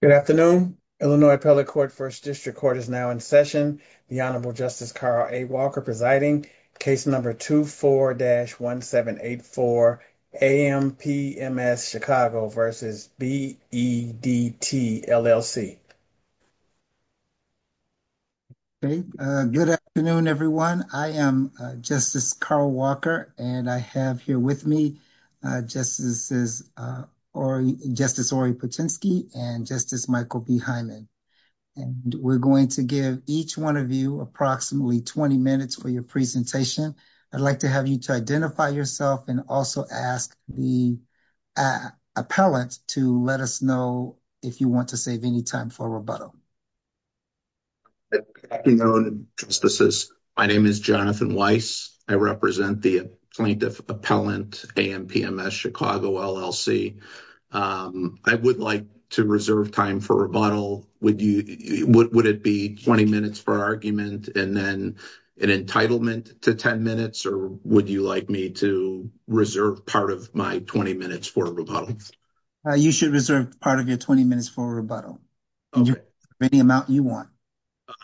Good afternoon. Illinois Appellate Court First District Court is now in session. The Honorable Justice Carl A. Walker presiding. Case number 24-1784, AMPMS Chicago v. Bedt, LLC. Okay, good afternoon, everyone. I am Justice Carl Walker, and I have here with me, Justices, Justice Ori Potensky and Justice Michael B. Hyman, and we're going to give each one of you approximately 20 minutes for your presentation. I'd like to have you to identify yourself and also ask the appellant to let us know if you want to save any time for rebuttal. Good afternoon, Justices. My name is Jonathan Weiss. I represent the plaintiff appellant, AMPMS Chicago, LLC. I would like to reserve time for rebuttal. Would it be 20 minutes for argument and then an entitlement to 10 minutes, or would you like me to reserve part of my 20 minutes for rebuttal? You should reserve part of your 20 minutes for rebuttal. Any amount you want.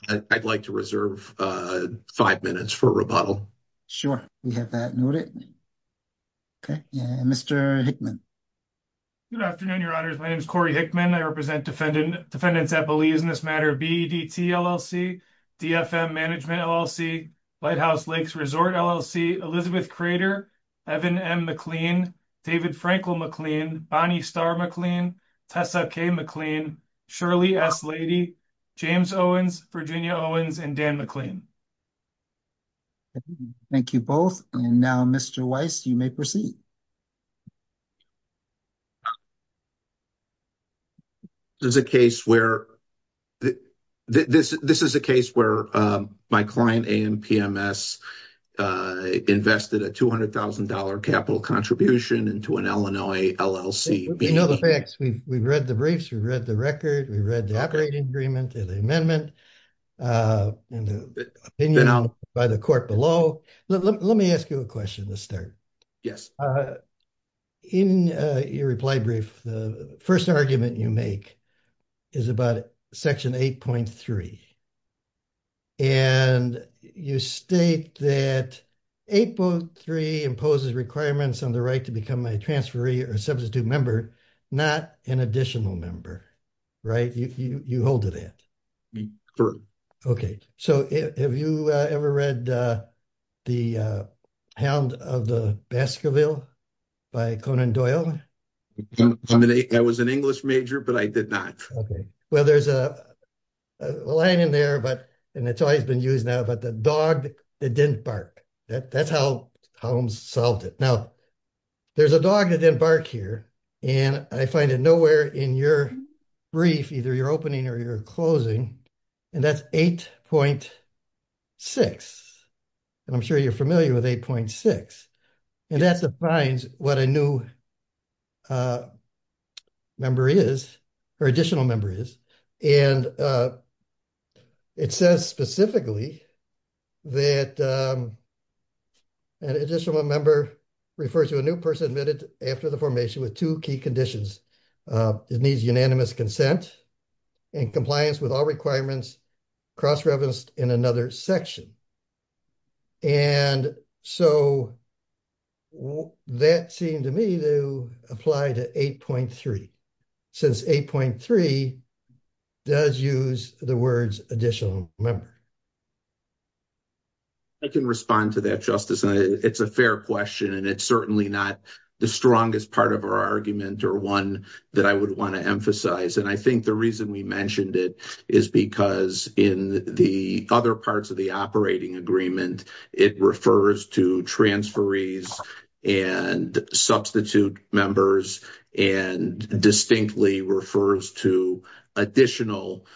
I'd like to reserve five minutes for rebuttal. Sure, we have that noted. Okay, Mr. Hickman. Good afternoon, Your Honors. My name is Corey Hickman. I represent Defendants at Belize in this matter, BEDT, LLC, DFM Management, LLC, Lighthouse Lakes Resort, LLC, Elizabeth Crater, Evan M. McLean, David Frankel McLean, Bonnie Starr McLean, Tessa K. McLean, Shirley S. Lady, James Owens, Virginia Owens, and Dan McLean. Thank you both. And now, Mr. Weiss, you may proceed. This is a case where my client, AMPMS, invested a $200,000 capital contribution into an Illinois LLC. We know the facts. We've read the briefs. We've read the record. We've read the operating agreement and the amendment and the opinion by the court below. Let me ask you a question to start. In your reply brief, the first argument you make is about Section 8.3. And you state that 8.3 imposes requirements on the right to become a transferee or substitute member, not an additional member. Right? You hold to that? Correct. Okay, so have you ever read The Hound of the Baskerville by Conan Doyle? I was an English major, but I did not. Okay. Well, there's a line in there, and it's always been used now, but the dog that didn't bark. That's how Holmes solved it. Now, there's a dog that didn't bark here, and I find it nowhere in your brief, either your opening or your closing, and that's 8.6. And I'm sure you're familiar with 8.6. And that defines what a new member is, or additional member is. And it says specifically that an additional member refers to a new person admitted after the formation with two key conditions. It needs unanimous consent and compliance with all requirements cross-referenced in another section. And so that seemed to me to apply to 8.3. Since 8.3 does use the words additional member. I can respond to that, Justice. It's a fair question, and it's certainly not the strongest part of our argument or one that I would want to emphasize. And I think the reason we mentioned it is because in the other parts of the operating agreement, it refers to transferees and substitute members and distinctly refers to additional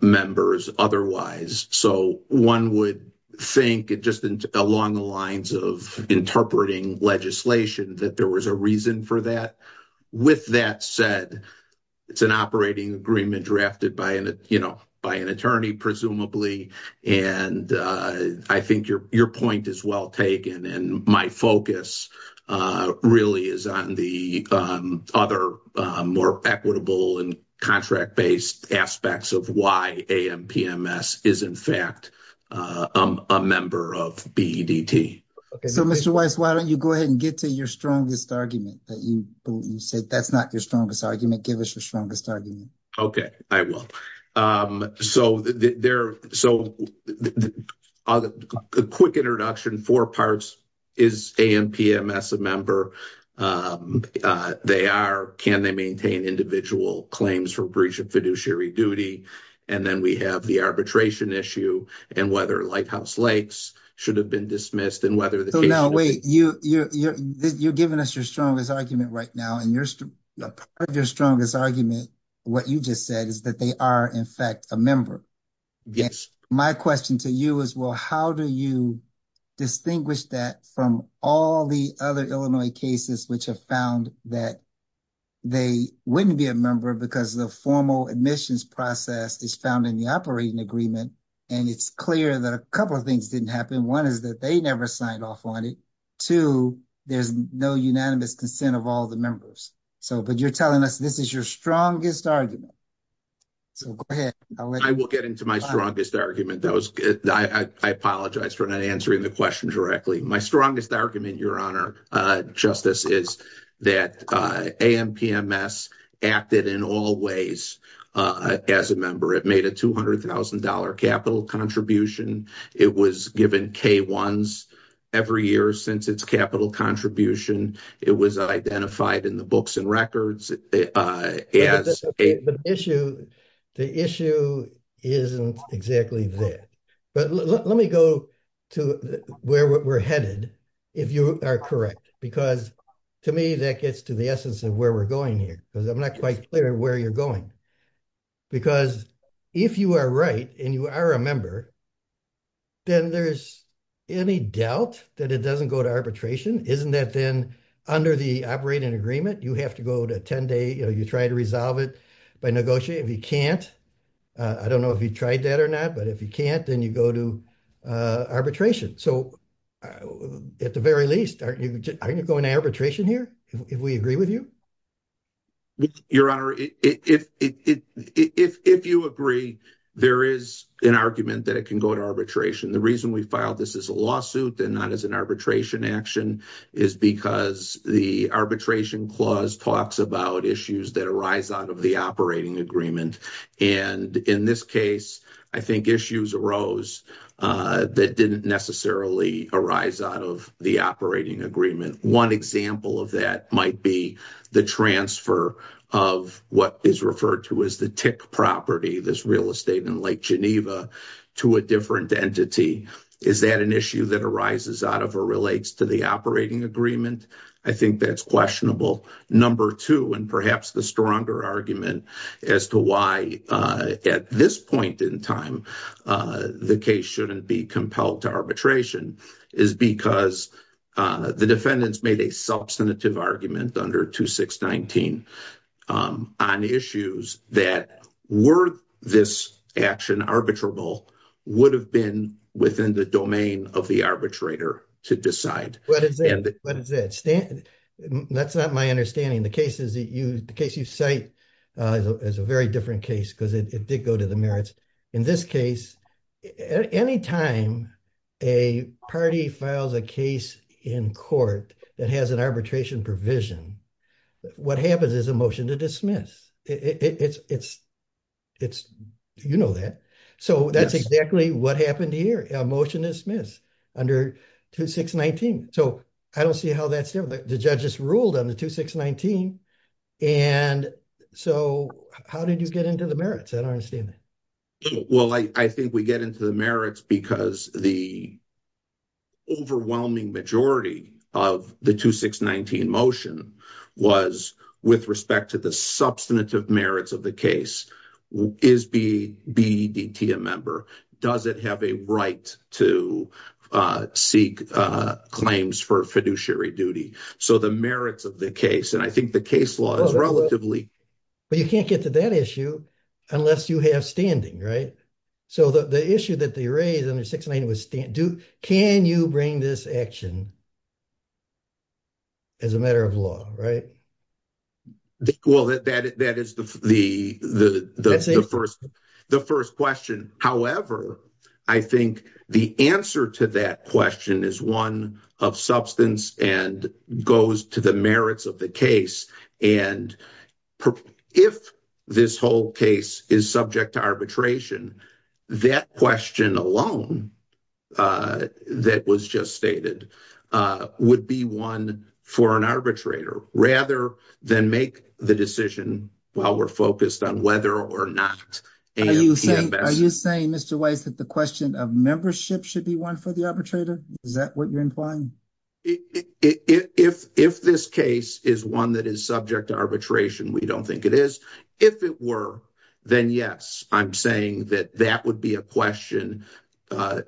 members otherwise. So one would think, just along the lines of interpreting legislation, that there was a reason for that. With that said, it's an operating agreement drafted by an attorney, presumably. And I think your point is well taken. And my focus really is on the other more equitable and contract-based aspects of why AMPMS is, in fact, a member of BEDT. So, Mr. Weiss, why don't you go ahead and get to your strongest argument that you said? That's not your strongest argument. Give us your strongest argument. Okay, I will. So the quick introduction, four parts, is AMPMS a member? They are, can they maintain individual claims for breach of fiduciary duty? And then we have the arbitration issue and whether Lighthouse Lakes should have been dismissed and whether the case- No, wait, you're giving us your strongest argument right now. And part of your strongest argument, what you just said, is that they are, in fact, a member. Yes. My question to you is, well, how do you distinguish that from all the other Illinois cases which have found that they wouldn't be a member because the formal admissions process is found in the operating agreement? And it's clear that a couple of things didn't happen. One is that they never signed off on it. Two, there's no unanimous consent of all the members. So, but you're telling us this is your strongest argument. So go ahead. I will get into my strongest argument. I apologize for not answering the question directly. My strongest argument, Your Honor, Justice, is that AMPMS acted in all ways as a member. It made a $200,000 capital contribution. It was given K-1s every year since its capital contribution. It was identified in the books and records as a- The issue isn't exactly there. But let me go to where we're headed, if you are correct, because to me that gets to the essence of where we're going here because I'm not quite clear where you're going. Because if you are right and you are a member, then there's any doubt that it doesn't go to arbitration? Isn't that then under the operating agreement, you have to go to a 10-day, you know, you try to resolve it by negotiating. If you can't, I don't know if you tried that or not, but if you can't, then you go to arbitration. So at the very least, aren't you going to arbitration here if we agree with you? Your Honor, if you agree, there is an argument that it can go to arbitration. The reason we filed this as a lawsuit and not as an arbitration action is because the arbitration clause talks about issues that arise out of the operating agreement. And in this case, I think issues arose that didn't necessarily arise out of the operating agreement. One example of that might be the transfer of what is referred to as the tick property, this real estate in Lake Geneva, to a different entity. Is that an issue that arises out of or relates to the operating agreement? I think that's questionable. Number two, and perhaps the stronger argument as to why at this point in time the case shouldn't be compelled to arbitration, is because the defendants made a substantive argument under 2619 on issues that were this action arbitrable would have been within the domain of the arbitrator to decide. What is that? That's not my understanding. The case you cite is a very different case because it did go to the merits. In this case, any time a party files a case in court that has an arbitration provision, what happens is a motion to dismiss. You know that. So that's exactly what happened here. A motion is dismissed under 2619. So I don't see how that's different. The judges ruled on the 2619. And so how did you get into the merits? I don't understand that. Well, I think we get into the merits because the overwhelming majority of the 2619 motion was with respect to the substantive merits of the case. Is BEDT a member? Does it have a right to seek claims for fiduciary duty? So the merits of the case, and I think the case law is relatively. But you can't get to that issue unless you have standing, right? So the issue that they raised under 690 was can you bring this action as a matter of law, right? Well, that is the first question. However, I think the answer to that question is one of substance and goes to the merits of the case. And if this whole case is subject to arbitration, that question alone that was just stated would be one for an arbitrator rather than make the decision while we're focused on whether or not. Are you saying Mr. Weiss that the question of membership should be one for the arbitrator? Is that what you're implying? If this case is one that is subject to arbitration, we don't think it is. If it were, then yes, I'm saying that that would be a question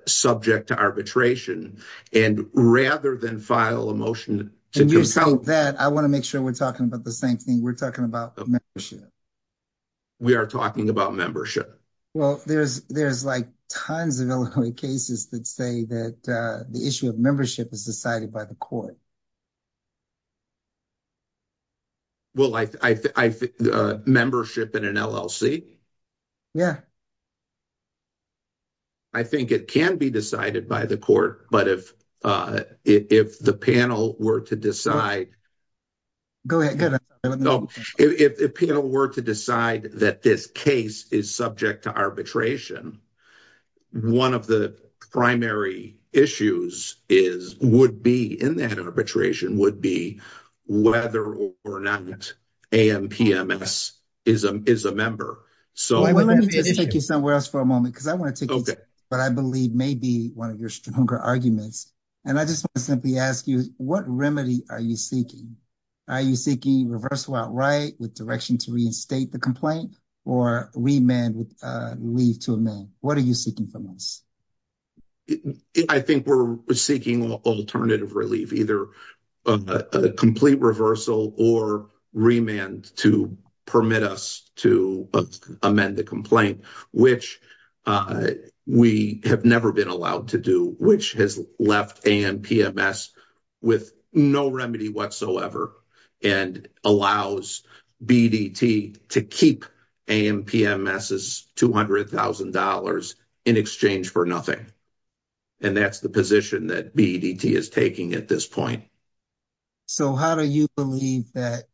subject to arbitration and rather than file a motion. That I want to make sure we're talking about the same thing we're talking about. We are talking about membership. Well, there's, there's like, tons of cases that say that the issue of membership is decided by the court. Well, I think membership in an LLC. Yeah, I think it can be decided by the court, but if if the panel were to decide. Go ahead. No, if the panel were to decide that this case is subject to arbitration. 1 of the primary issues is would be in that arbitration would be whether or not. Is a member, so I want to take you somewhere else for a moment because I want to take, but I believe may be 1 of your stronger arguments and I just want to simply ask you what remedy are you seeking? Are you seeking reversal? Outright with direction to reinstate the complaint or remand with leave to a man? What are you seeking from us? I think we're seeking alternative relief, either a complete reversal or remand to permit us to amend the complaint, which we have never been allowed to do, which has left and PMS with no remedy whatsoever. And allows to keep 200,000 dollars in exchange for nothing. And that's the position that is taking at this point. So, how do you believe that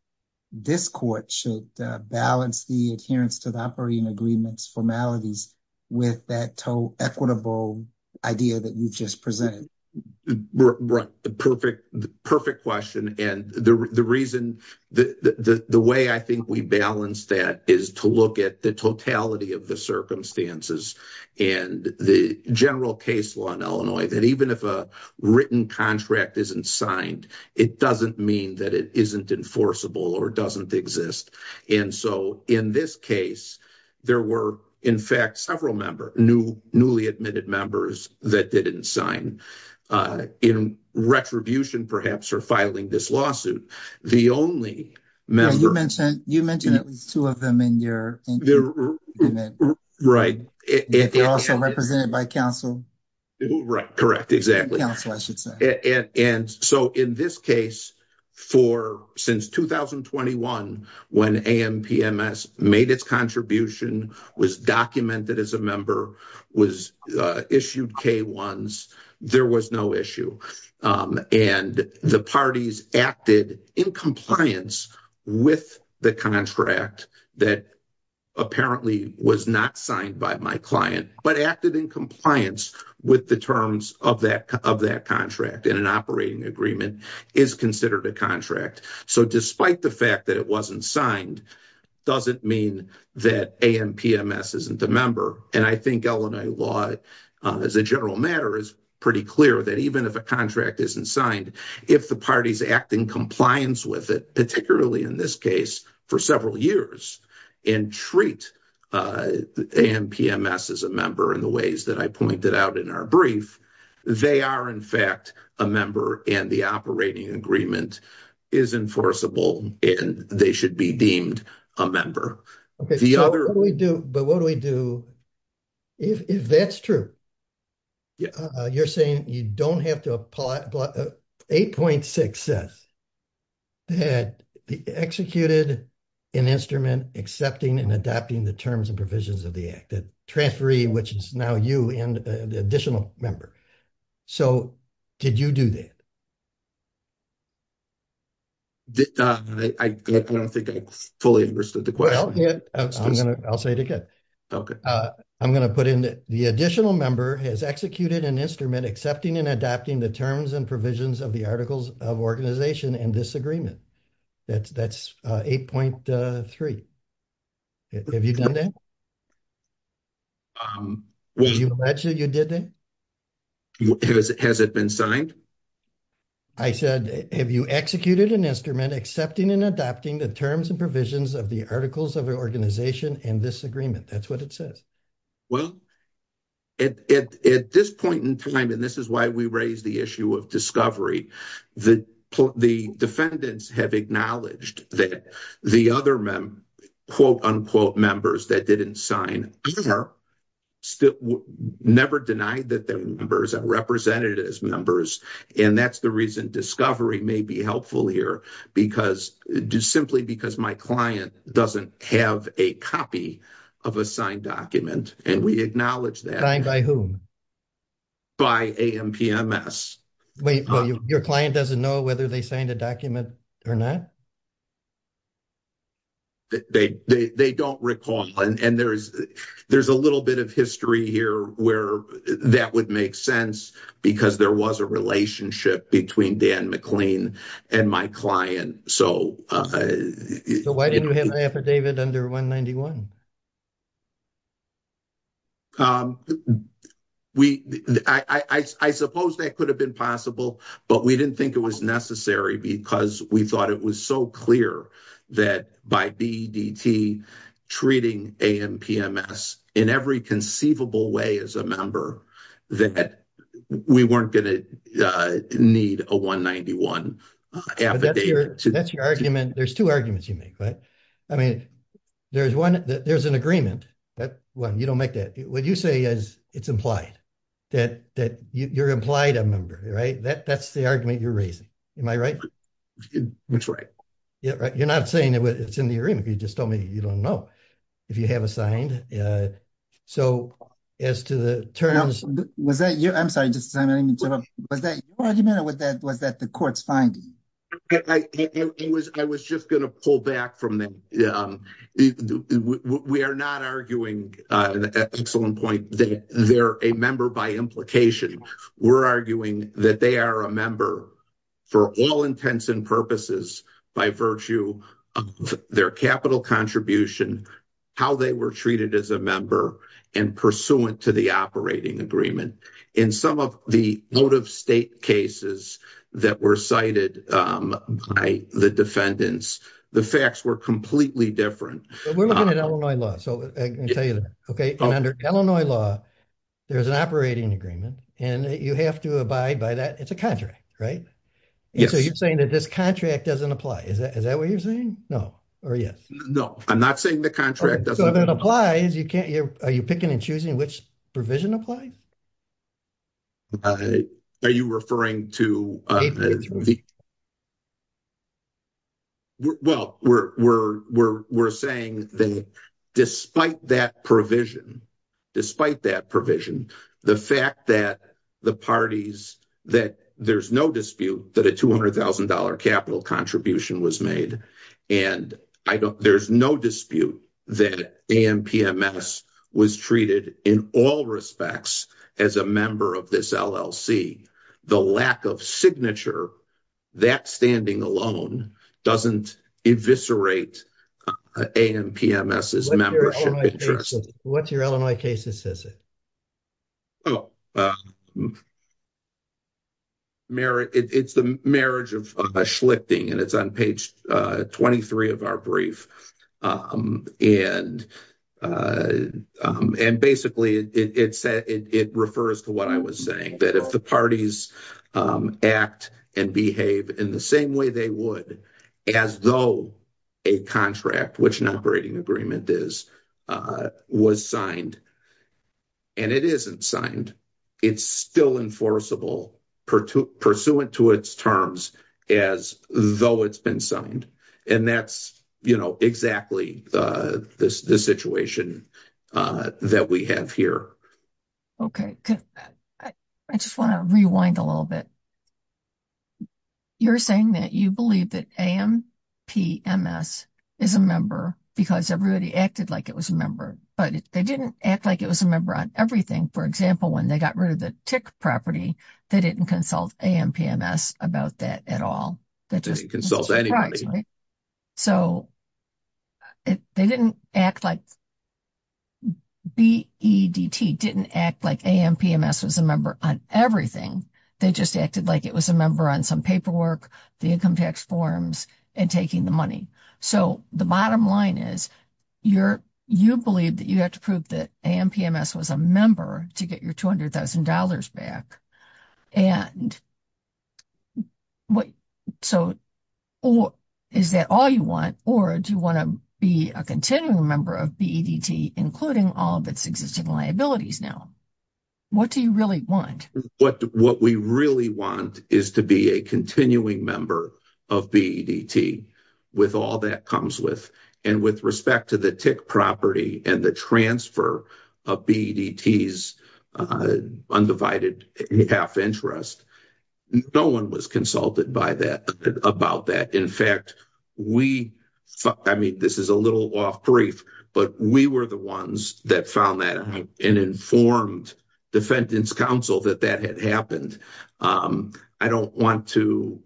this court should balance the adherence to the operating agreements formalities with that toe equitable idea that you've just presented? The perfect question and the reason the way I think we balance that is to look at the totality of the circumstances and the general case law in Illinois that even if a written contract isn't signed, it doesn't mean that it isn't enforceable or doesn't exist. And so, in this case, there were, in fact, several member new, newly admitted members that didn't sign in retribution, perhaps, or filing this lawsuit. The only. You mentioned you mentioned at least 2 of them in your. Right. Represented by counsel. Right. Correct. Exactly. And so, in this case, for since 2021, when made its contribution was documented as a member was issued K ones, there was no issue and the parties acted in compliance with the contract. That apparently was not signed by my client, but acted in compliance with the terms of that of that contract in an operating agreement is considered a contract. So, despite the fact that it wasn't signed, doesn't mean that isn't the member. And I think Illinois law as a general matter is pretty clear that even if a contract isn't signed, if the parties act in compliance with it, particularly in this case for several years and treat as a member in the ways that I pointed out in our brief. They are, in fact, a member and the operating agreement is enforceable, and they should be deemed a member. Okay. The other we do, but what do we do? If that's true, you're saying you don't have to apply 8.6 says. That executed an instrument, accepting and adopting the terms and provisions of the act that transferee, which is now you and the additional member. So, did you do that? I don't think I fully understood the question. I'll say it again. Okay, I'm going to put in the additional member has executed an instrument, accepting and adopting the terms and provisions of the articles of organization and disagreement. That's that's 8.3. Have you done that? You did that. Has it been signed? I said, have you executed an instrument, accepting and adopting the terms and provisions of the articles of organization and disagreement? That's what it says. Well, at this point in time, and this is why we raise the issue of discovery that the defendants have acknowledged that the other quote unquote members that didn't sign. Still never denied that their members are represented as members and that's the reason discovery may be helpful here because just simply because my client doesn't have a copy of a signed document. And we acknowledge that by whom. By your client doesn't know whether they signed a document or not. They don't recall and there's, there's a little bit of history here where that would make sense because there was a relationship between Dan McLean and my client. So, why didn't you have an affidavit under 191? We, I suppose that could have been possible, but we didn't think it was necessary because we thought it was so clear that by BDT treating in every conceivable way as a member that we weren't going to need a 191. That's your argument. There's two arguments you make right. I mean, there's one, there's an agreement that when you don't make that what you say is, it's implied that that you're implied a member right that that's the argument you're raising. Am I right. That's right. Yeah, you're not saying that it's in the agreement you just told me you don't know if you have assigned. So, as to the turn, I was was that you I'm sorry, just was that argument or was that was that the court's fine. I was just going to pull back from that. We are not arguing excellent point that they're a member by implication. We're arguing that they are a member for all intents and purposes by virtue of their capital contribution, how they were treated as a member and pursuant to the operating agreement. In some of the motive state cases that were cited by the defendants, the facts were completely different. We're looking at Illinois law. So, I can tell you that. Okay. Under Illinois law. There's an operating agreement, and you have to abide by that. It's a contract, right? So, you're saying that this contract doesn't apply. Is that is that what you're saying? No, or yes. No, I'm not saying the contract doesn't apply. You can't are you picking and choosing which provision apply. Are you referring to. Well, we're, we're, we're, we're saying that despite that provision. Despite that provision, the fact that the parties that there's no dispute that a 200,000 dollar capital contribution was made. And I don't there's no dispute that was treated in all respects as a member of this LLC, the lack of signature. That standing alone doesn't eviscerate a, and PMS is membership interest. What's your Illinois cases? Is it. Merit it's the marriage of a Schlichting and it's on page 23 of our brief and and basically it said it refers to what I was saying that if the parties act. Act and behave in the same way they would as though a contract, which an operating agreement is was signed. And it isn't signed, it's still enforceable pursuant to its terms as though it's been signed and that's exactly the situation that we have here. Okay, I just want to rewind a little bit. You're saying that you believe that am PMS is a member because everybody acted like it was a member, but they didn't act like it was a member on everything. For example, when they got rid of the tick property, they didn't consult and PMS about that at all. So. They didn't act like. B. E. D. T. didn't act like a PMS was a member on everything. They just acted like it was a member on some paperwork, the income tax forms and taking the money. So the bottom line is your you believe that you have to prove that and PMS was a member to get your $200,000 back and. What so or is that all you want or do you want to be a continuing member of including all of its existing liabilities now? What do you really want? What we really want is to be a continuing member of B. E. D. T. with all that comes with and with respect to the tick property and the transfer of B. E. D. T.'s undivided half interest. No one was consulted by that about that. In fact, we I mean, this is a little off brief, but we were the ones that found that an informed defendant's counsel that that had happened. I don't want to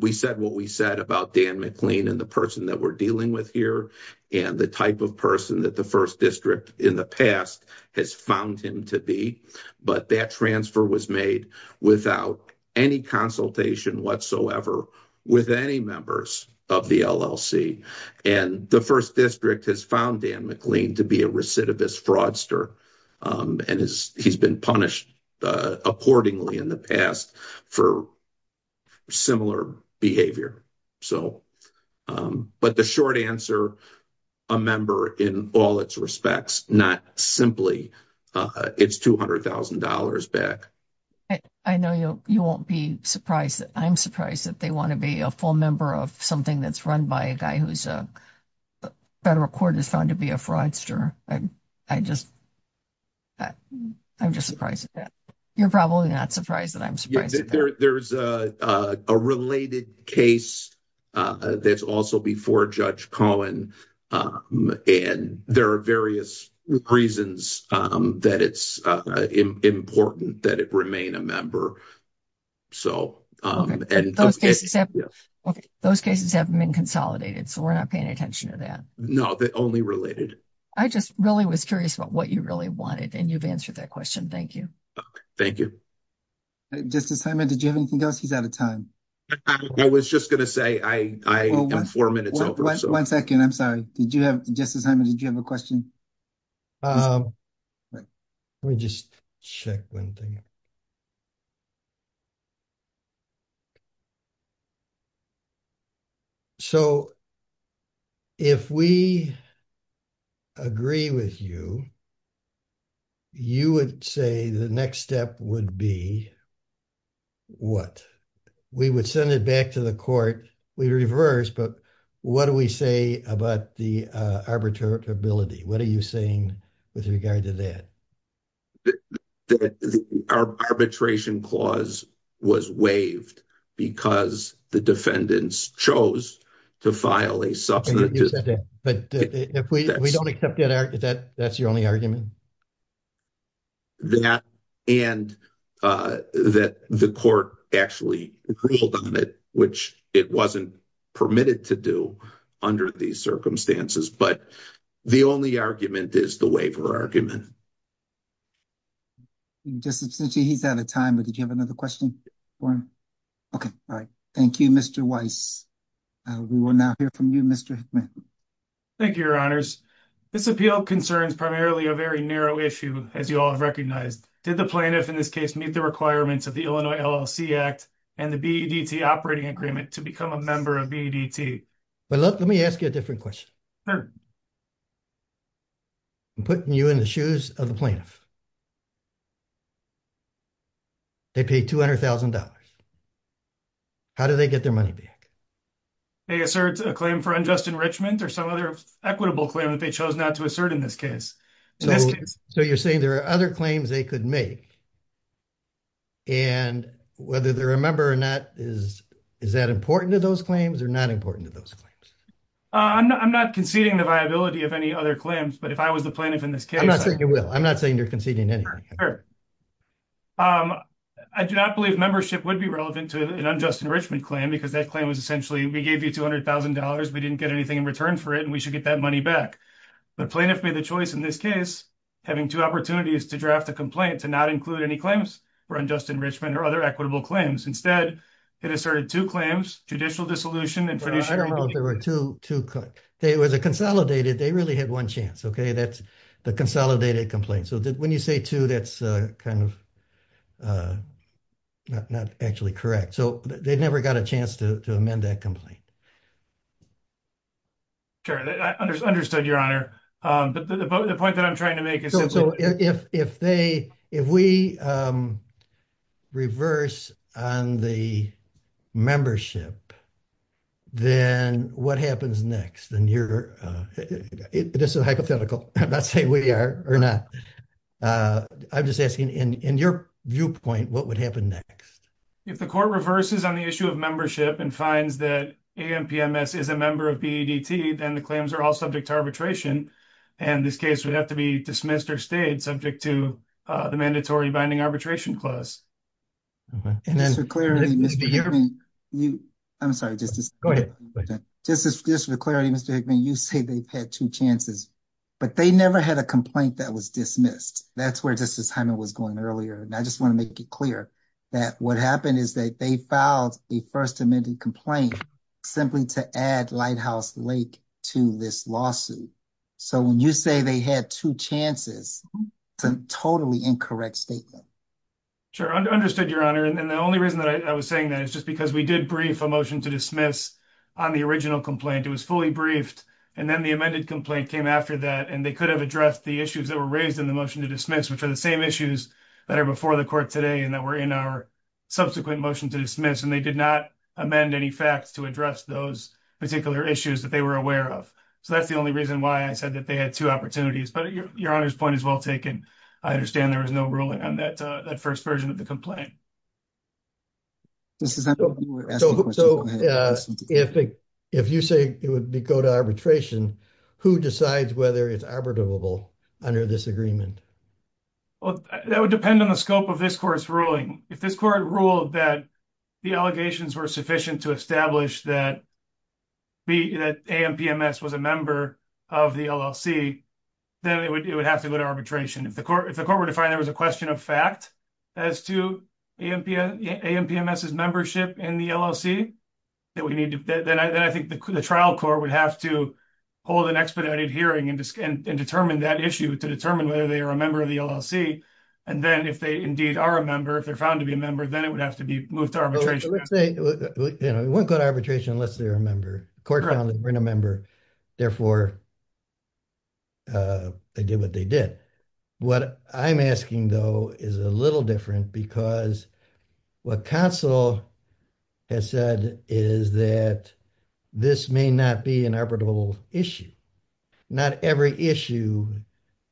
we said what we said about Dan McLean and the person that we're dealing with here and the type of person that the 1st district in the past has found him to be. But that transfer was made without any consultation whatsoever with any members of the LLC and the 1st district has found Dan McLean to be a recidivist fraudster. And he's been punished accordingly in the past for similar behavior. So, but the short answer a member in all its respects, not simply it's $200,000 back. I know you won't be surprised. I'm surprised that they want to be a full member of something that's run by a guy who's a federal court is found to be a fraudster. I just I'm just surprised that you're probably not surprised that I'm surprised that there's a related case. That's also before Judge Cohen, and there are various reasons that it's important that it remain a member. So, and those cases have been consolidated, so we're not paying attention to that. No, the only related, I just really was curious about what you really wanted and you've answered that question. Thank you. Thank you. Just assignment, did you have anything else? He's out of time. I was just going to say, I am 4 minutes over 1 2nd. I'm sorry. Did you have just as I did? You have a question. Let me just check 1 thing. So. If we agree with you. You would say the next step would be. What we would send it back to the court, we reverse, but what do we say about the arbitrary ability? What are you saying with regard to that? Arbitration clause was waived because the defendants chose to file a. But if we don't accept that, that's your only argument. And that the court actually, which it wasn't permitted to do under these circumstances, but the only argument is the waiver argument. Just since he's out of time, but did you have another question for him? Okay. All right. Thank you. Mr. Weiss. We will now hear from you. Mr. Thank you. Your honors this appeal concerns primarily a very narrow issue as you all have recognized. Did the plaintiff in this case, meet the requirements of the Illinois LLC act and the BDT operating agreement to become a member of BDT. But let me ask you a different question. I'm putting you in the shoes of the plaintiff. They pay $200,000. How do they get their money back? They assert a claim for unjust enrichment or some other equitable claim that they chose not to assert in this case. So you're saying there are other claims they could make. And whether they're a member or not is, is that important to those claims are not important to those claims. I'm not conceding the viability of any other claims, but if I was the plaintiff in this case, I'm not saying you're conceding any. I do not believe membership would be relevant to an unjust enrichment claim because that claim was essentially we gave you $200,000 we didn't get anything in return for it and we should get that money back. The plaintiff made the choice in this case, having 2 opportunities to draft a complaint to not include any claims for unjust enrichment or other equitable claims instead. It asserted 2 claims judicial dissolution and I don't know if there were 2, 2, they was a consolidated. They really had 1 chance. Okay. That's the consolidated complaint. So when you say 2, that's kind of. Not actually correct, so they never got a chance to amend that complaint. I understood your honor, but the point that I'm trying to make is if they, if we. Reverse on the membership. Then what happens next and you're just a hypothetical. Let's say we are or not. I'm just asking in your viewpoint, what would happen next? If the court reverses on the issue of membership and finds that is a member of, then the claims are all subject to arbitration. And this case would have to be dismissed or stayed subject to the mandatory binding arbitration clause. And then you, I'm sorry, just go ahead. This is just for clarity. Mr. Hickman, you say they've had 2 chances. But they never had a complaint that was dismissed. That's where this assignment was going earlier. And I just want to make it clear that what happened is that they filed a 1st amendment complaint. Simply to add lighthouse lake to this lawsuit. So, when you say they had 2 chances, some totally incorrect statement. Sure, understood your honor. And the only reason that I was saying that is just because we did brief a motion to dismiss on the original complaint. It was fully briefed. And then the amended complaint came after that, and they could have addressed the issues that were raised in the motion to dismiss, which are the same issues. That are before the court today, and that we're in our. Subsequent motion to dismiss, and they did not amend any facts to address those particular issues that they were aware of. So, that's the only reason why I said that they had 2 opportunities, but your honor's point is well taken. I understand there was no ruling on that 1st version of the complaint. So, if you say it would go to arbitration, who decides whether it's arbitrable under this agreement? Well, that would depend on the scope of this course ruling. If this court ruled that. The allegations were sufficient to establish that. Be that was a member of the LLC. Then it would, it would have to go to arbitration if the court, if the court were to find there was a question of fact. As to is membership in the LLC. That we need to, then I think the trial court would have to. Hold an expedited hearing and determine that issue to determine whether they are a member of the LLC. And then if they indeed are a member, if they're found to be a member, then it would have to be moved to arbitration. You know, it wouldn't go to arbitration unless they're a member court found to bring a member. Therefore, they did what they did. What I'm asking, though, is a little different because. What console has said is that. This may not be an arbitrable issue. Not every issue.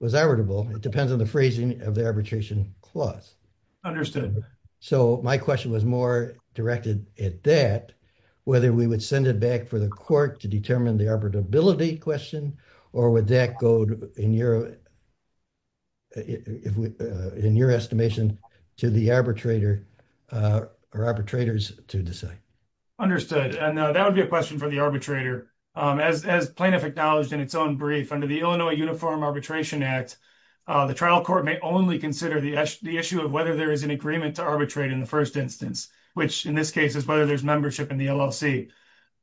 It depends on the phrasing of the arbitration clause. Understood. So my question was more directed at that. Whether we would send it back for the court to determine the ability question. Or would that go in your. In your estimation to the arbitrator. Or arbitrators to decide understood. And that would be a question for the arbitrator. As plaintiff acknowledged in its own brief under the Illinois uniform arbitration act. The trial court may only consider the issue of whether there is an agreement to arbitrate in the 1st instance. Which, in this case, is whether there's membership in the LLC.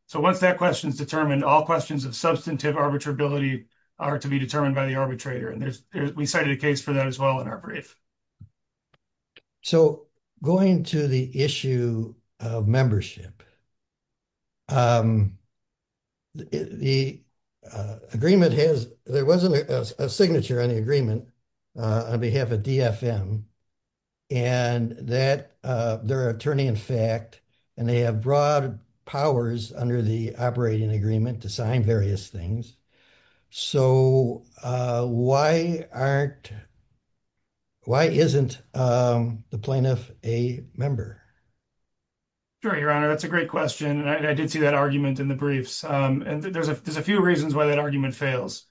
So, once that question is determined, all questions of substantive arbitrability. Are to be determined by the arbitrator and we cited a case for that as well in our brief. So, going to the issue of membership. The agreement has there wasn't a signature on the agreement. On behalf of DFM. And that their attorney, in fact. And they have broad powers under the operating agreement to sign various things. So, why aren't. Why isn't the plaintiff a member. Sure, your honor. That's a great question. And I did see that argument in the briefs. And there's a few reasons why that argument fails.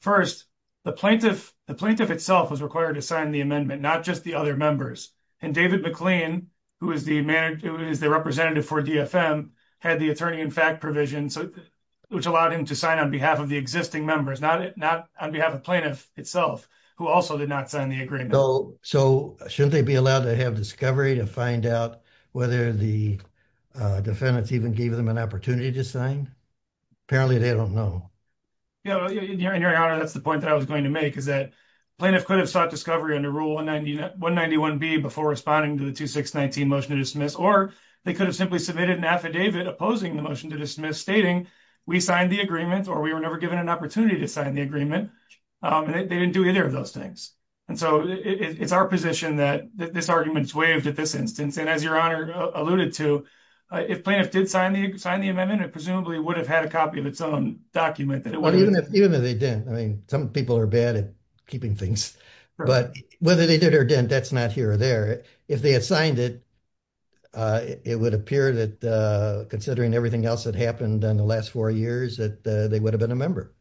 First, the plaintiff, the plaintiff itself was required to sign the amendment, not just the other members. And David McLean, who is the manager, who is the representative for DFM. Had the attorney, in fact, provision. Which allowed him to sign on behalf of the existing members, not on behalf of plaintiff itself, who also did not sign the agreement. So, shouldn't they be allowed to have discovery to find out whether the. Defendants even gave them an opportunity to sign. Apparently, they don't know. And your honor, that's the point that I was going to make is that. Plaintiff could have sought discovery under rule 191B before responding to the 2619 motion to dismiss, or they could have simply submitted an affidavit opposing the motion to dismiss stating. We signed the agreement, or we were never given an opportunity to sign the agreement. And they didn't do either of those things. And so it's our position that this argument is waived at this instance. And as your honor alluded to. If plaintiff did sign the amendment, it presumably would have had a copy of its own document. Even if they didn't, I mean, some people are bad at keeping things, but whether they did or didn't, that's not here or there. If they had signed it. It would appear that considering everything else that happened in the last 4 years that they would have been a member.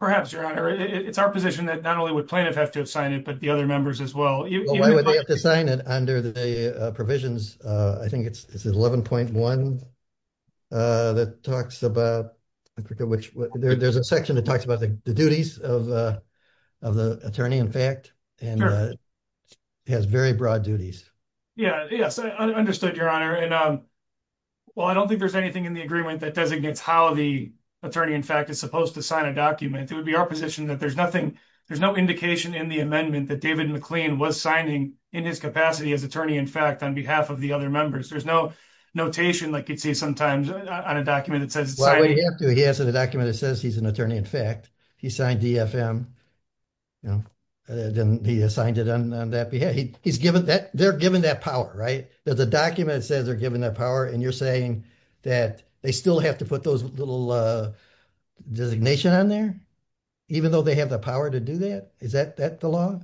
Perhaps your honor, it's our position that not only would plaintiff have to have signed it, but the other members as well. Why would they have to sign it under the provisions? I think it's 11.1 that talks about, there's a section that talks about the duties of the attorney in fact, and has very broad duties. Yeah, yes, I understood your honor. And, um. Well, I don't think there's anything in the agreement that designates how the attorney in fact, is supposed to sign a document. It would be our position that there's nothing. There's no indication in the amendment that David McLean was signing in his capacity as attorney. In fact, on behalf of the other members, there's no notation like you'd see sometimes on a document that says he has a document that says he's an attorney. In fact, he signed the FM. Then he assigned it on that behalf. He's given that they're given that power, right? There's a document that says they're given that power and you're saying that they still have to put those little designation on there. Even though they have the power to do that. Is that that the law?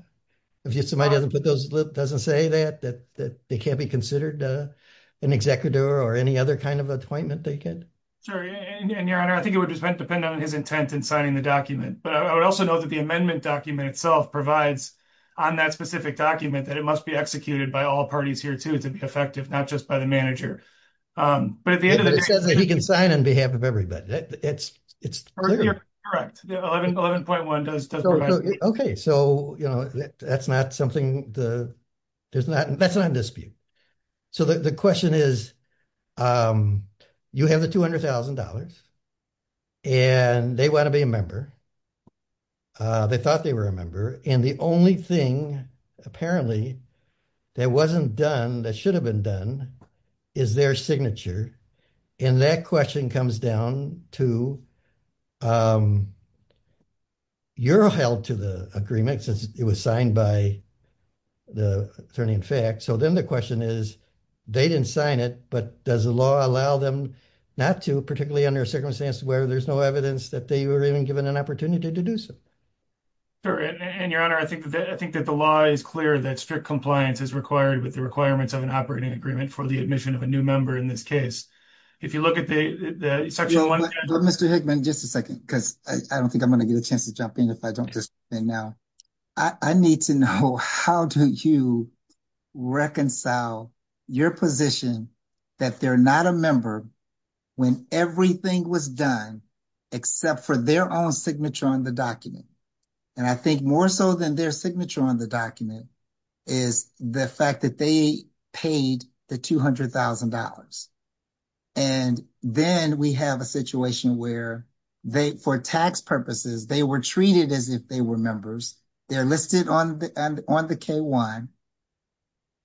If somebody doesn't put those doesn't say that that they can't be considered an executor or any other kind of appointment they could. And your honor, I think it would depend on his intent and signing the document, but I would also know that the amendment document itself provides on that specific document that it must be executed by all parties here to to be effective, not just by the manager. But at the end of the day, he can sign on behalf of everybody. It's, it's correct 11.1 does. Okay, so, you know, that's not something the. There's not that's not a dispute. So the question is, you have the $200,000. And they want to be a member. They thought they were a member. And the only thing, apparently, that wasn't done that should have been done is their signature. And that question comes down to your health to the agreement since it was signed by the attorney. In fact, so then the question is, they didn't sign it. But does the law allow them not to particularly under circumstances where there's no evidence that they were even given an opportunity to do so. And your honor, I think that I think that the law is clear that strict compliance is required with the requirements of an operating agreement for the admission of a new member in this case. If you look at the section 1, Mr. Hickman, just a 2nd, because I don't think I'm going to get a chance to jump in. If I don't just now. I need to know how do you reconcile your position that they're not a member. When everything was done, except for their own signature on the document. And I think more so than their signature on the document is the fact that they paid the $200,000. And then we have a situation where they, for tax purposes, they were treated as if they were members. They're listed on the on the K1.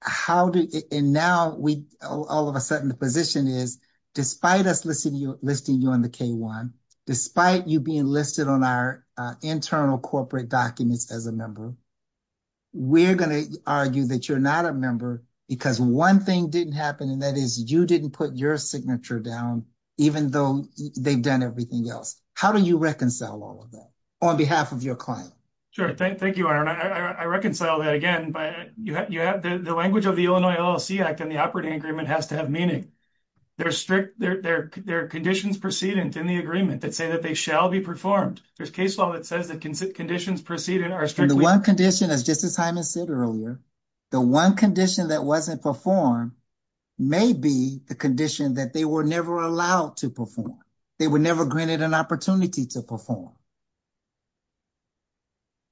How do and now we all of a sudden the position is, despite us listening, listing you on the K1, despite you being listed on our internal corporate documents as a member. We're going to argue that you're not a member because 1 thing didn't happen and that is you didn't put your signature down, even though they've done everything else. How do you reconcile all of that on behalf of your client? Sure, thank you. I reconcile that again, but you have the language of the Illinois LLC act and the operating agreement has to have meaning. They're strict, their conditions precedence in the agreement that say that they shall be performed. There's case law that says that conditions preceded are the 1 condition is just as I said earlier. The 1 condition that wasn't performed. Maybe the condition that they were never allowed to perform. They were never granted an opportunity to perform.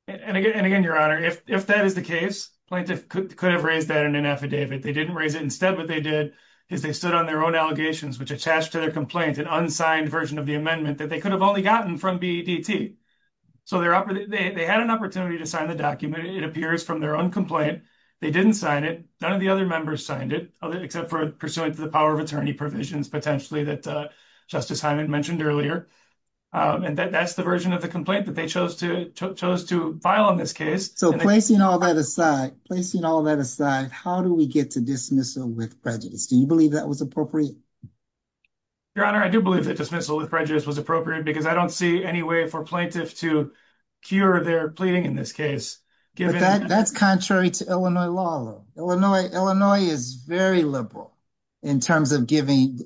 And again, your honor, if that is the case, plaintiff could have raised that in an affidavit. They didn't raise it. Instead, what they did is they stood on their own allegations, which attached to their complaint and unsigned version of the amendment that they could have only gotten from BDT. So they're up, they had an opportunity to sign the document. It appears from their own complaint. They didn't sign it. None of the other members signed it, except for pursuant to the power of attorney provisions, potentially that Justice Hyman mentioned earlier. And that's the version of the complaint that they chose to chose to file on this case. So, placing all that aside, placing all that aside, how do we get to dismissal with prejudice? Do you believe that was appropriate? Your honor, I do believe that dismissal with prejudice was appropriate because I don't see any way for plaintiff to cure their pleading in this case. That's contrary to Illinois law. Illinois is very liberal in terms of giving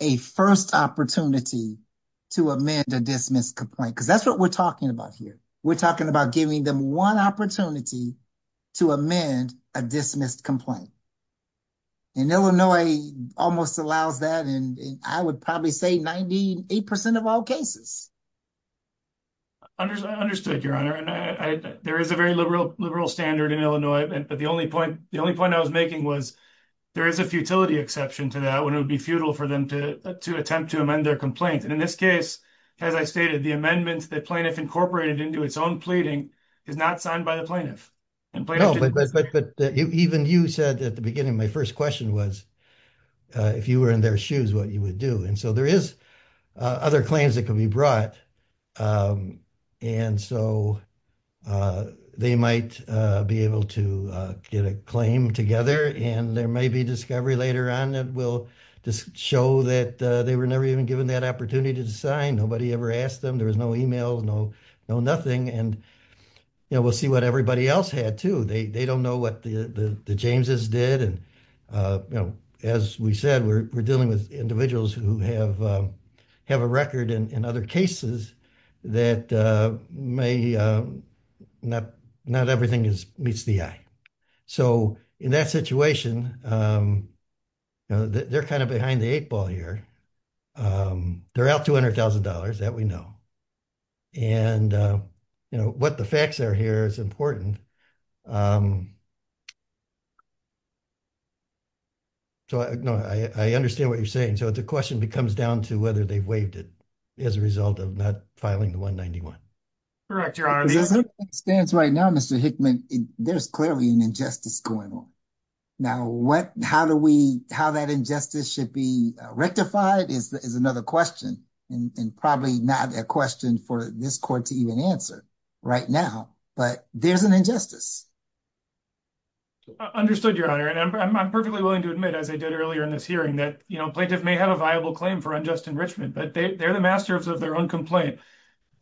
a first opportunity to amend a dismissed complaint because that's what we're talking about here. We're talking about giving them one opportunity to amend a dismissed complaint. And Illinois almost allows that and I would probably say 98% of all cases. I understood, your honor, and there is a very liberal standard in Illinois, but the only point I was making was there is a futility exception to that when it would be futile for them to attempt to amend their complaint. And in this case, as I stated, the amendments that plaintiff incorporated into its own pleading is not signed by the plaintiff. No, but even you said at the beginning, my first question was, if you were in their shoes, what you would do. And so there is other claims that can be brought. And so they might be able to get a claim together and there may be discovery later on that will just show that they were never even given that opportunity to sign. Nobody ever asked them. There was no email, no, no, nothing. And, you know, we'll see what everybody else had to. They don't know what the James's did. And, you know, as we said, we're dealing with individuals who have have a record and other cases that may not everything is meets the eye. So, in that situation. They're kind of behind the 8 ball here. They're out 200,000 dollars that we know. And, you know, what the facts are here is important. So, I understand what you're saying. So the question becomes down to whether they've waived it. As a result of not filing the 191 correct, your honor stands right now, Mr. Hickman, there's clearly an injustice going on. Now, what how do we how that injustice should be rectified is another question and probably not a question for this court to even answer right now, but there's an injustice. Understood your honor, and I'm perfectly willing to admit, as I did earlier in this hearing that plaintiff may have a viable claim for unjust enrichment, but they're the masters of their own complaint.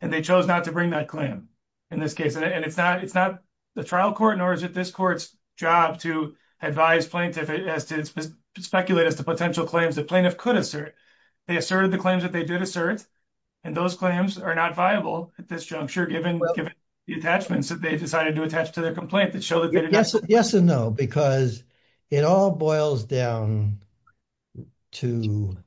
And they chose not to bring that claim. In this case, and it's not it's not the trial court, nor is it this court's job to advise plaintiff as to speculate as to potential claims that plaintiff could assert. They asserted the claims that they did assert, and those claims are not viable at this juncture, given the attachments that they decided to attach to their complaint that show that they did. Yes and no, because it all boils down to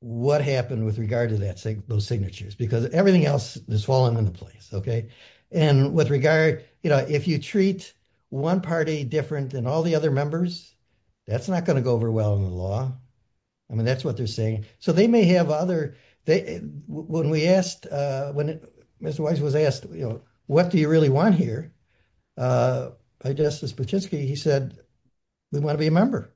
what happened with regard to that, those signatures, because everything else has fallen into place. OK, and with regard, you know, if you treat one party different than all the other members, that's not going to go over well in the law. I mean, that's what they're saying. So they may have other they when we asked when Mr. Weiss was asked, you know, what do you really want here? I guess as much as he said, we want to be a member.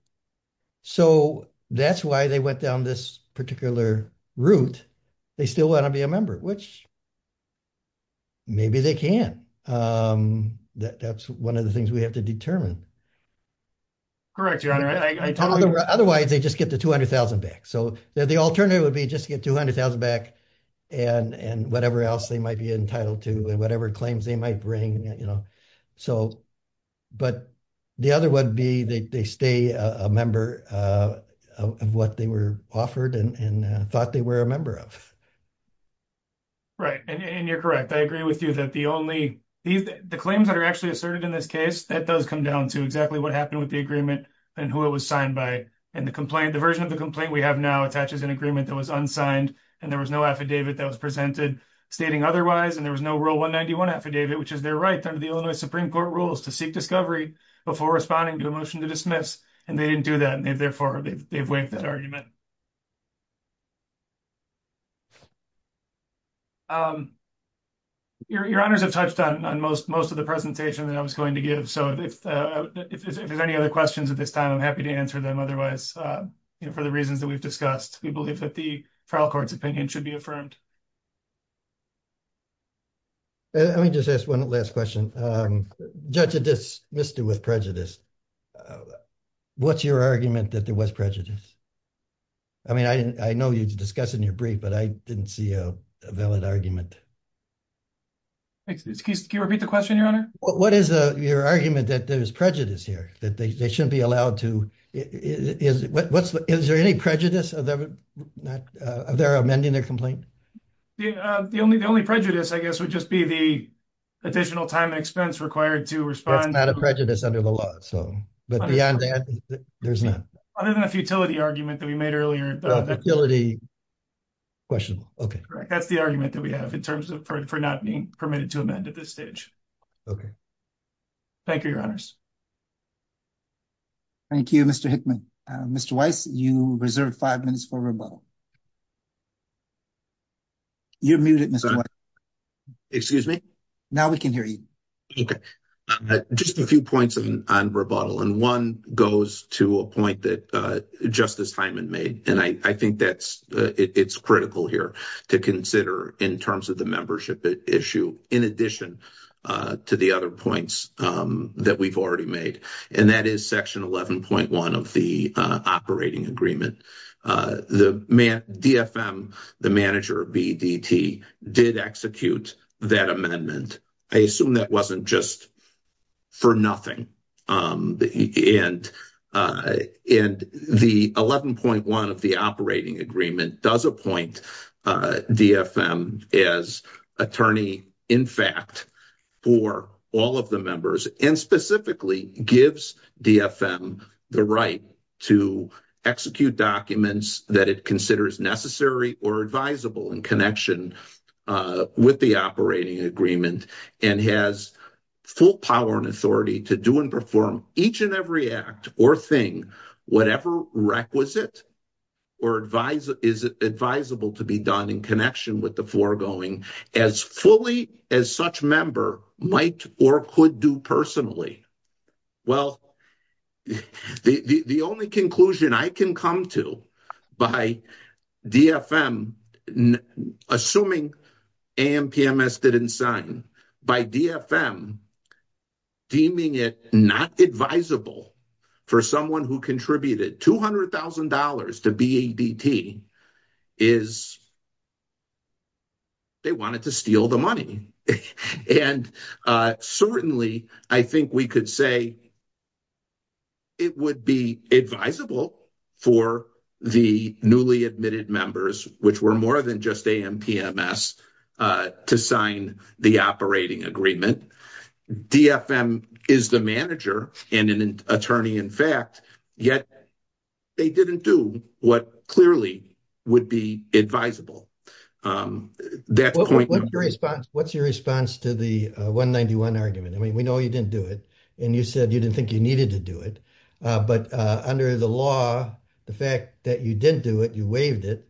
So that's why they went down this particular route. They still want to be a member, which. Maybe they can. That's one of the things we have to determine. Correct, Your Honor. Otherwise, they just get the 200,000 back. So the alternative would be just to get 200,000 back and whatever else they might be entitled to and whatever claims they might bring, you know, so. But the other would be they stay a member of what they were offered and thought they were a member of. Right, and you're correct, I agree with you that the only the claims that are actually asserted in this case that does come down to exactly what happened with the agreement and who it was signed by. And the complaint, the version of the complaint we have now attaches an agreement that was unsigned and there was no affidavit that was presented stating otherwise. And there was no Rule 191 affidavit, which is their right under the Illinois Supreme Court rules to seek discovery before responding to a motion to dismiss. And they didn't do that, and therefore they've waived that argument. Your Honors have touched on most of the presentation that I was going to give, so if there's any other questions at this time, I'm happy to answer them. Otherwise, for the reasons that we've discussed, we believe that the trial court's opinion should be affirmed. Let me just ask one last question. Judge Addis missed it with prejudice. What's your argument that there was prejudice? I mean, I know you discussed in your brief, but I didn't see a valid argument. Excuse me, can you repeat the question, Your Honor? What is your argument that there's prejudice here, that they shouldn't be allowed to? Is there any prejudice? Are they amending their complaint? The only prejudice, I guess, would just be the additional time and expense required to respond. That's not a prejudice under the law, but beyond that, there's none. Other than a futility argument that we made earlier. That's the argument that we have in terms of not being permitted to amend at this stage. Thank you, Your Honors. Thank you, Mr. Hickman. Mr. Weiss, you reserved five minutes for rebuttal. You're muted, Mr. Weiss. Excuse me? Now we can hear you. Just a few points on rebuttal, and one goes to a point that Justice Hyman made. And I think it's critical here to consider in terms of the membership issue, in addition to the other points that we've already made. And that is Section 11.1 of the operating agreement. DFM, the manager of BDT, did execute that amendment. I assume that wasn't just for nothing. And the 11.1 of the operating agreement does appoint DFM as attorney, in fact, for all of the members. And specifically gives DFM the right to execute documents that it considers necessary or advisable in connection with the operating agreement. And has full power and authority to do and perform each and every act or thing, whatever requisite is advisable to be done in connection with the foregoing, as fully as such member might or could do personally. Well, the only conclusion I can come to by DFM, assuming AMPMS didn't sign, by DFM deeming it not advisable for someone who contributed $200,000 to BDT is they wanted to steal the money. And certainly, I think we could say it would be advisable for the newly admitted members, which were more than just AMPMS, to sign the operating agreement. DFM is the manager and an attorney, in fact, yet they didn't do what clearly would be advisable. What's your response to the 191 argument? I mean, we know you didn't do it, and you said you didn't think you needed to do it. But under the law, the fact that you didn't do it, you waived it.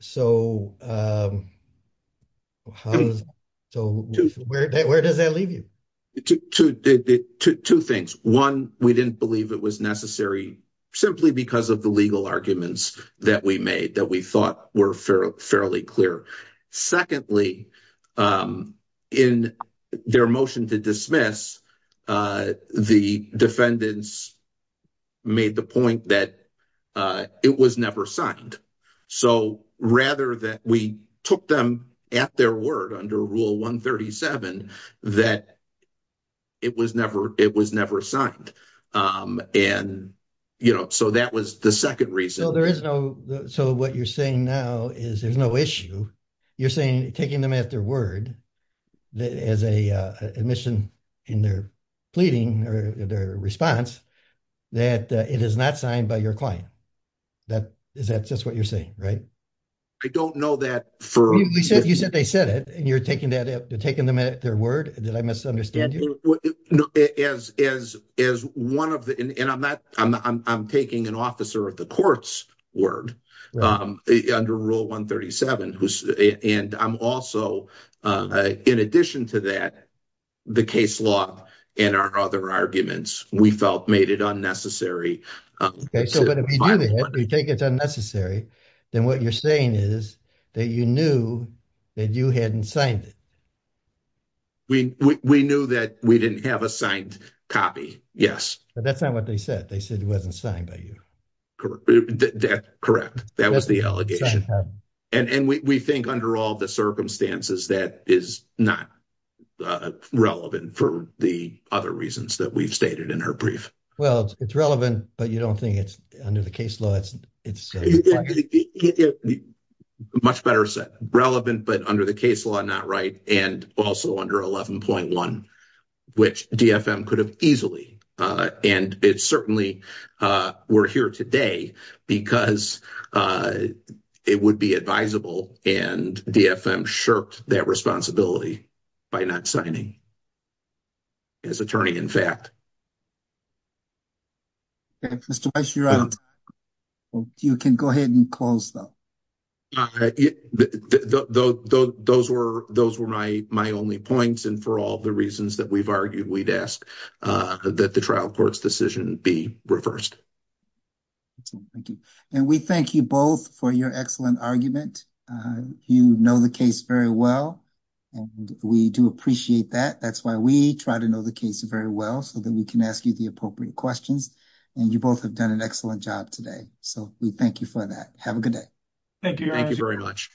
So where does that leave you? Two things. One, we didn't believe it was necessary simply because of the legal arguments that we made that we thought were fairly clear. Secondly, in their motion to dismiss, the defendants made the point that it was never signed. So rather that we took them at their word under Rule 137, that it was never signed. And, you know, so that was the second reason. So what you're saying now is there's no issue. You're saying taking them at their word as an admission in their pleading or their response that it is not signed by your client. Is that just what you're saying, right? I don't know that. You said they said it, and you're taking them at their word? Did I misunderstand you? As one of the – and I'm taking an officer of the court's word under Rule 137. And I'm also, in addition to that, the case law and our other arguments, we felt made it unnecessary. Okay, so if we do that, we think it's unnecessary, then what you're saying is that you knew that you hadn't signed it. We knew that we didn't have a signed copy, yes. But that's not what they said. They said it wasn't signed by you. Correct. That was the allegation. And we think under all the circumstances that is not relevant for the other reasons that we've stated in our brief. Well, it's relevant, but you don't think it's – under the case law, it's – Much better said. Relevant, but under the case law, not right, and also under 11.1, which DFM could have easily – And it's certainly – we're here today because it would be advisable, and DFM shirked that responsibility by not signing as attorney, in fact. Okay, Mr. Weiss, you're out. You can go ahead and close, though. Those were my only points, and for all the reasons that we've argued, we'd ask that the trial court's decision be reversed. Thank you. And we thank you both for your excellent argument. You know the case very well, and we do appreciate that. That's why we try to know the case very well, so that we can ask you the appropriate questions. And you both have done an excellent job today, so we thank you for that. Have a good day. Thank you, guys. Thank you very much.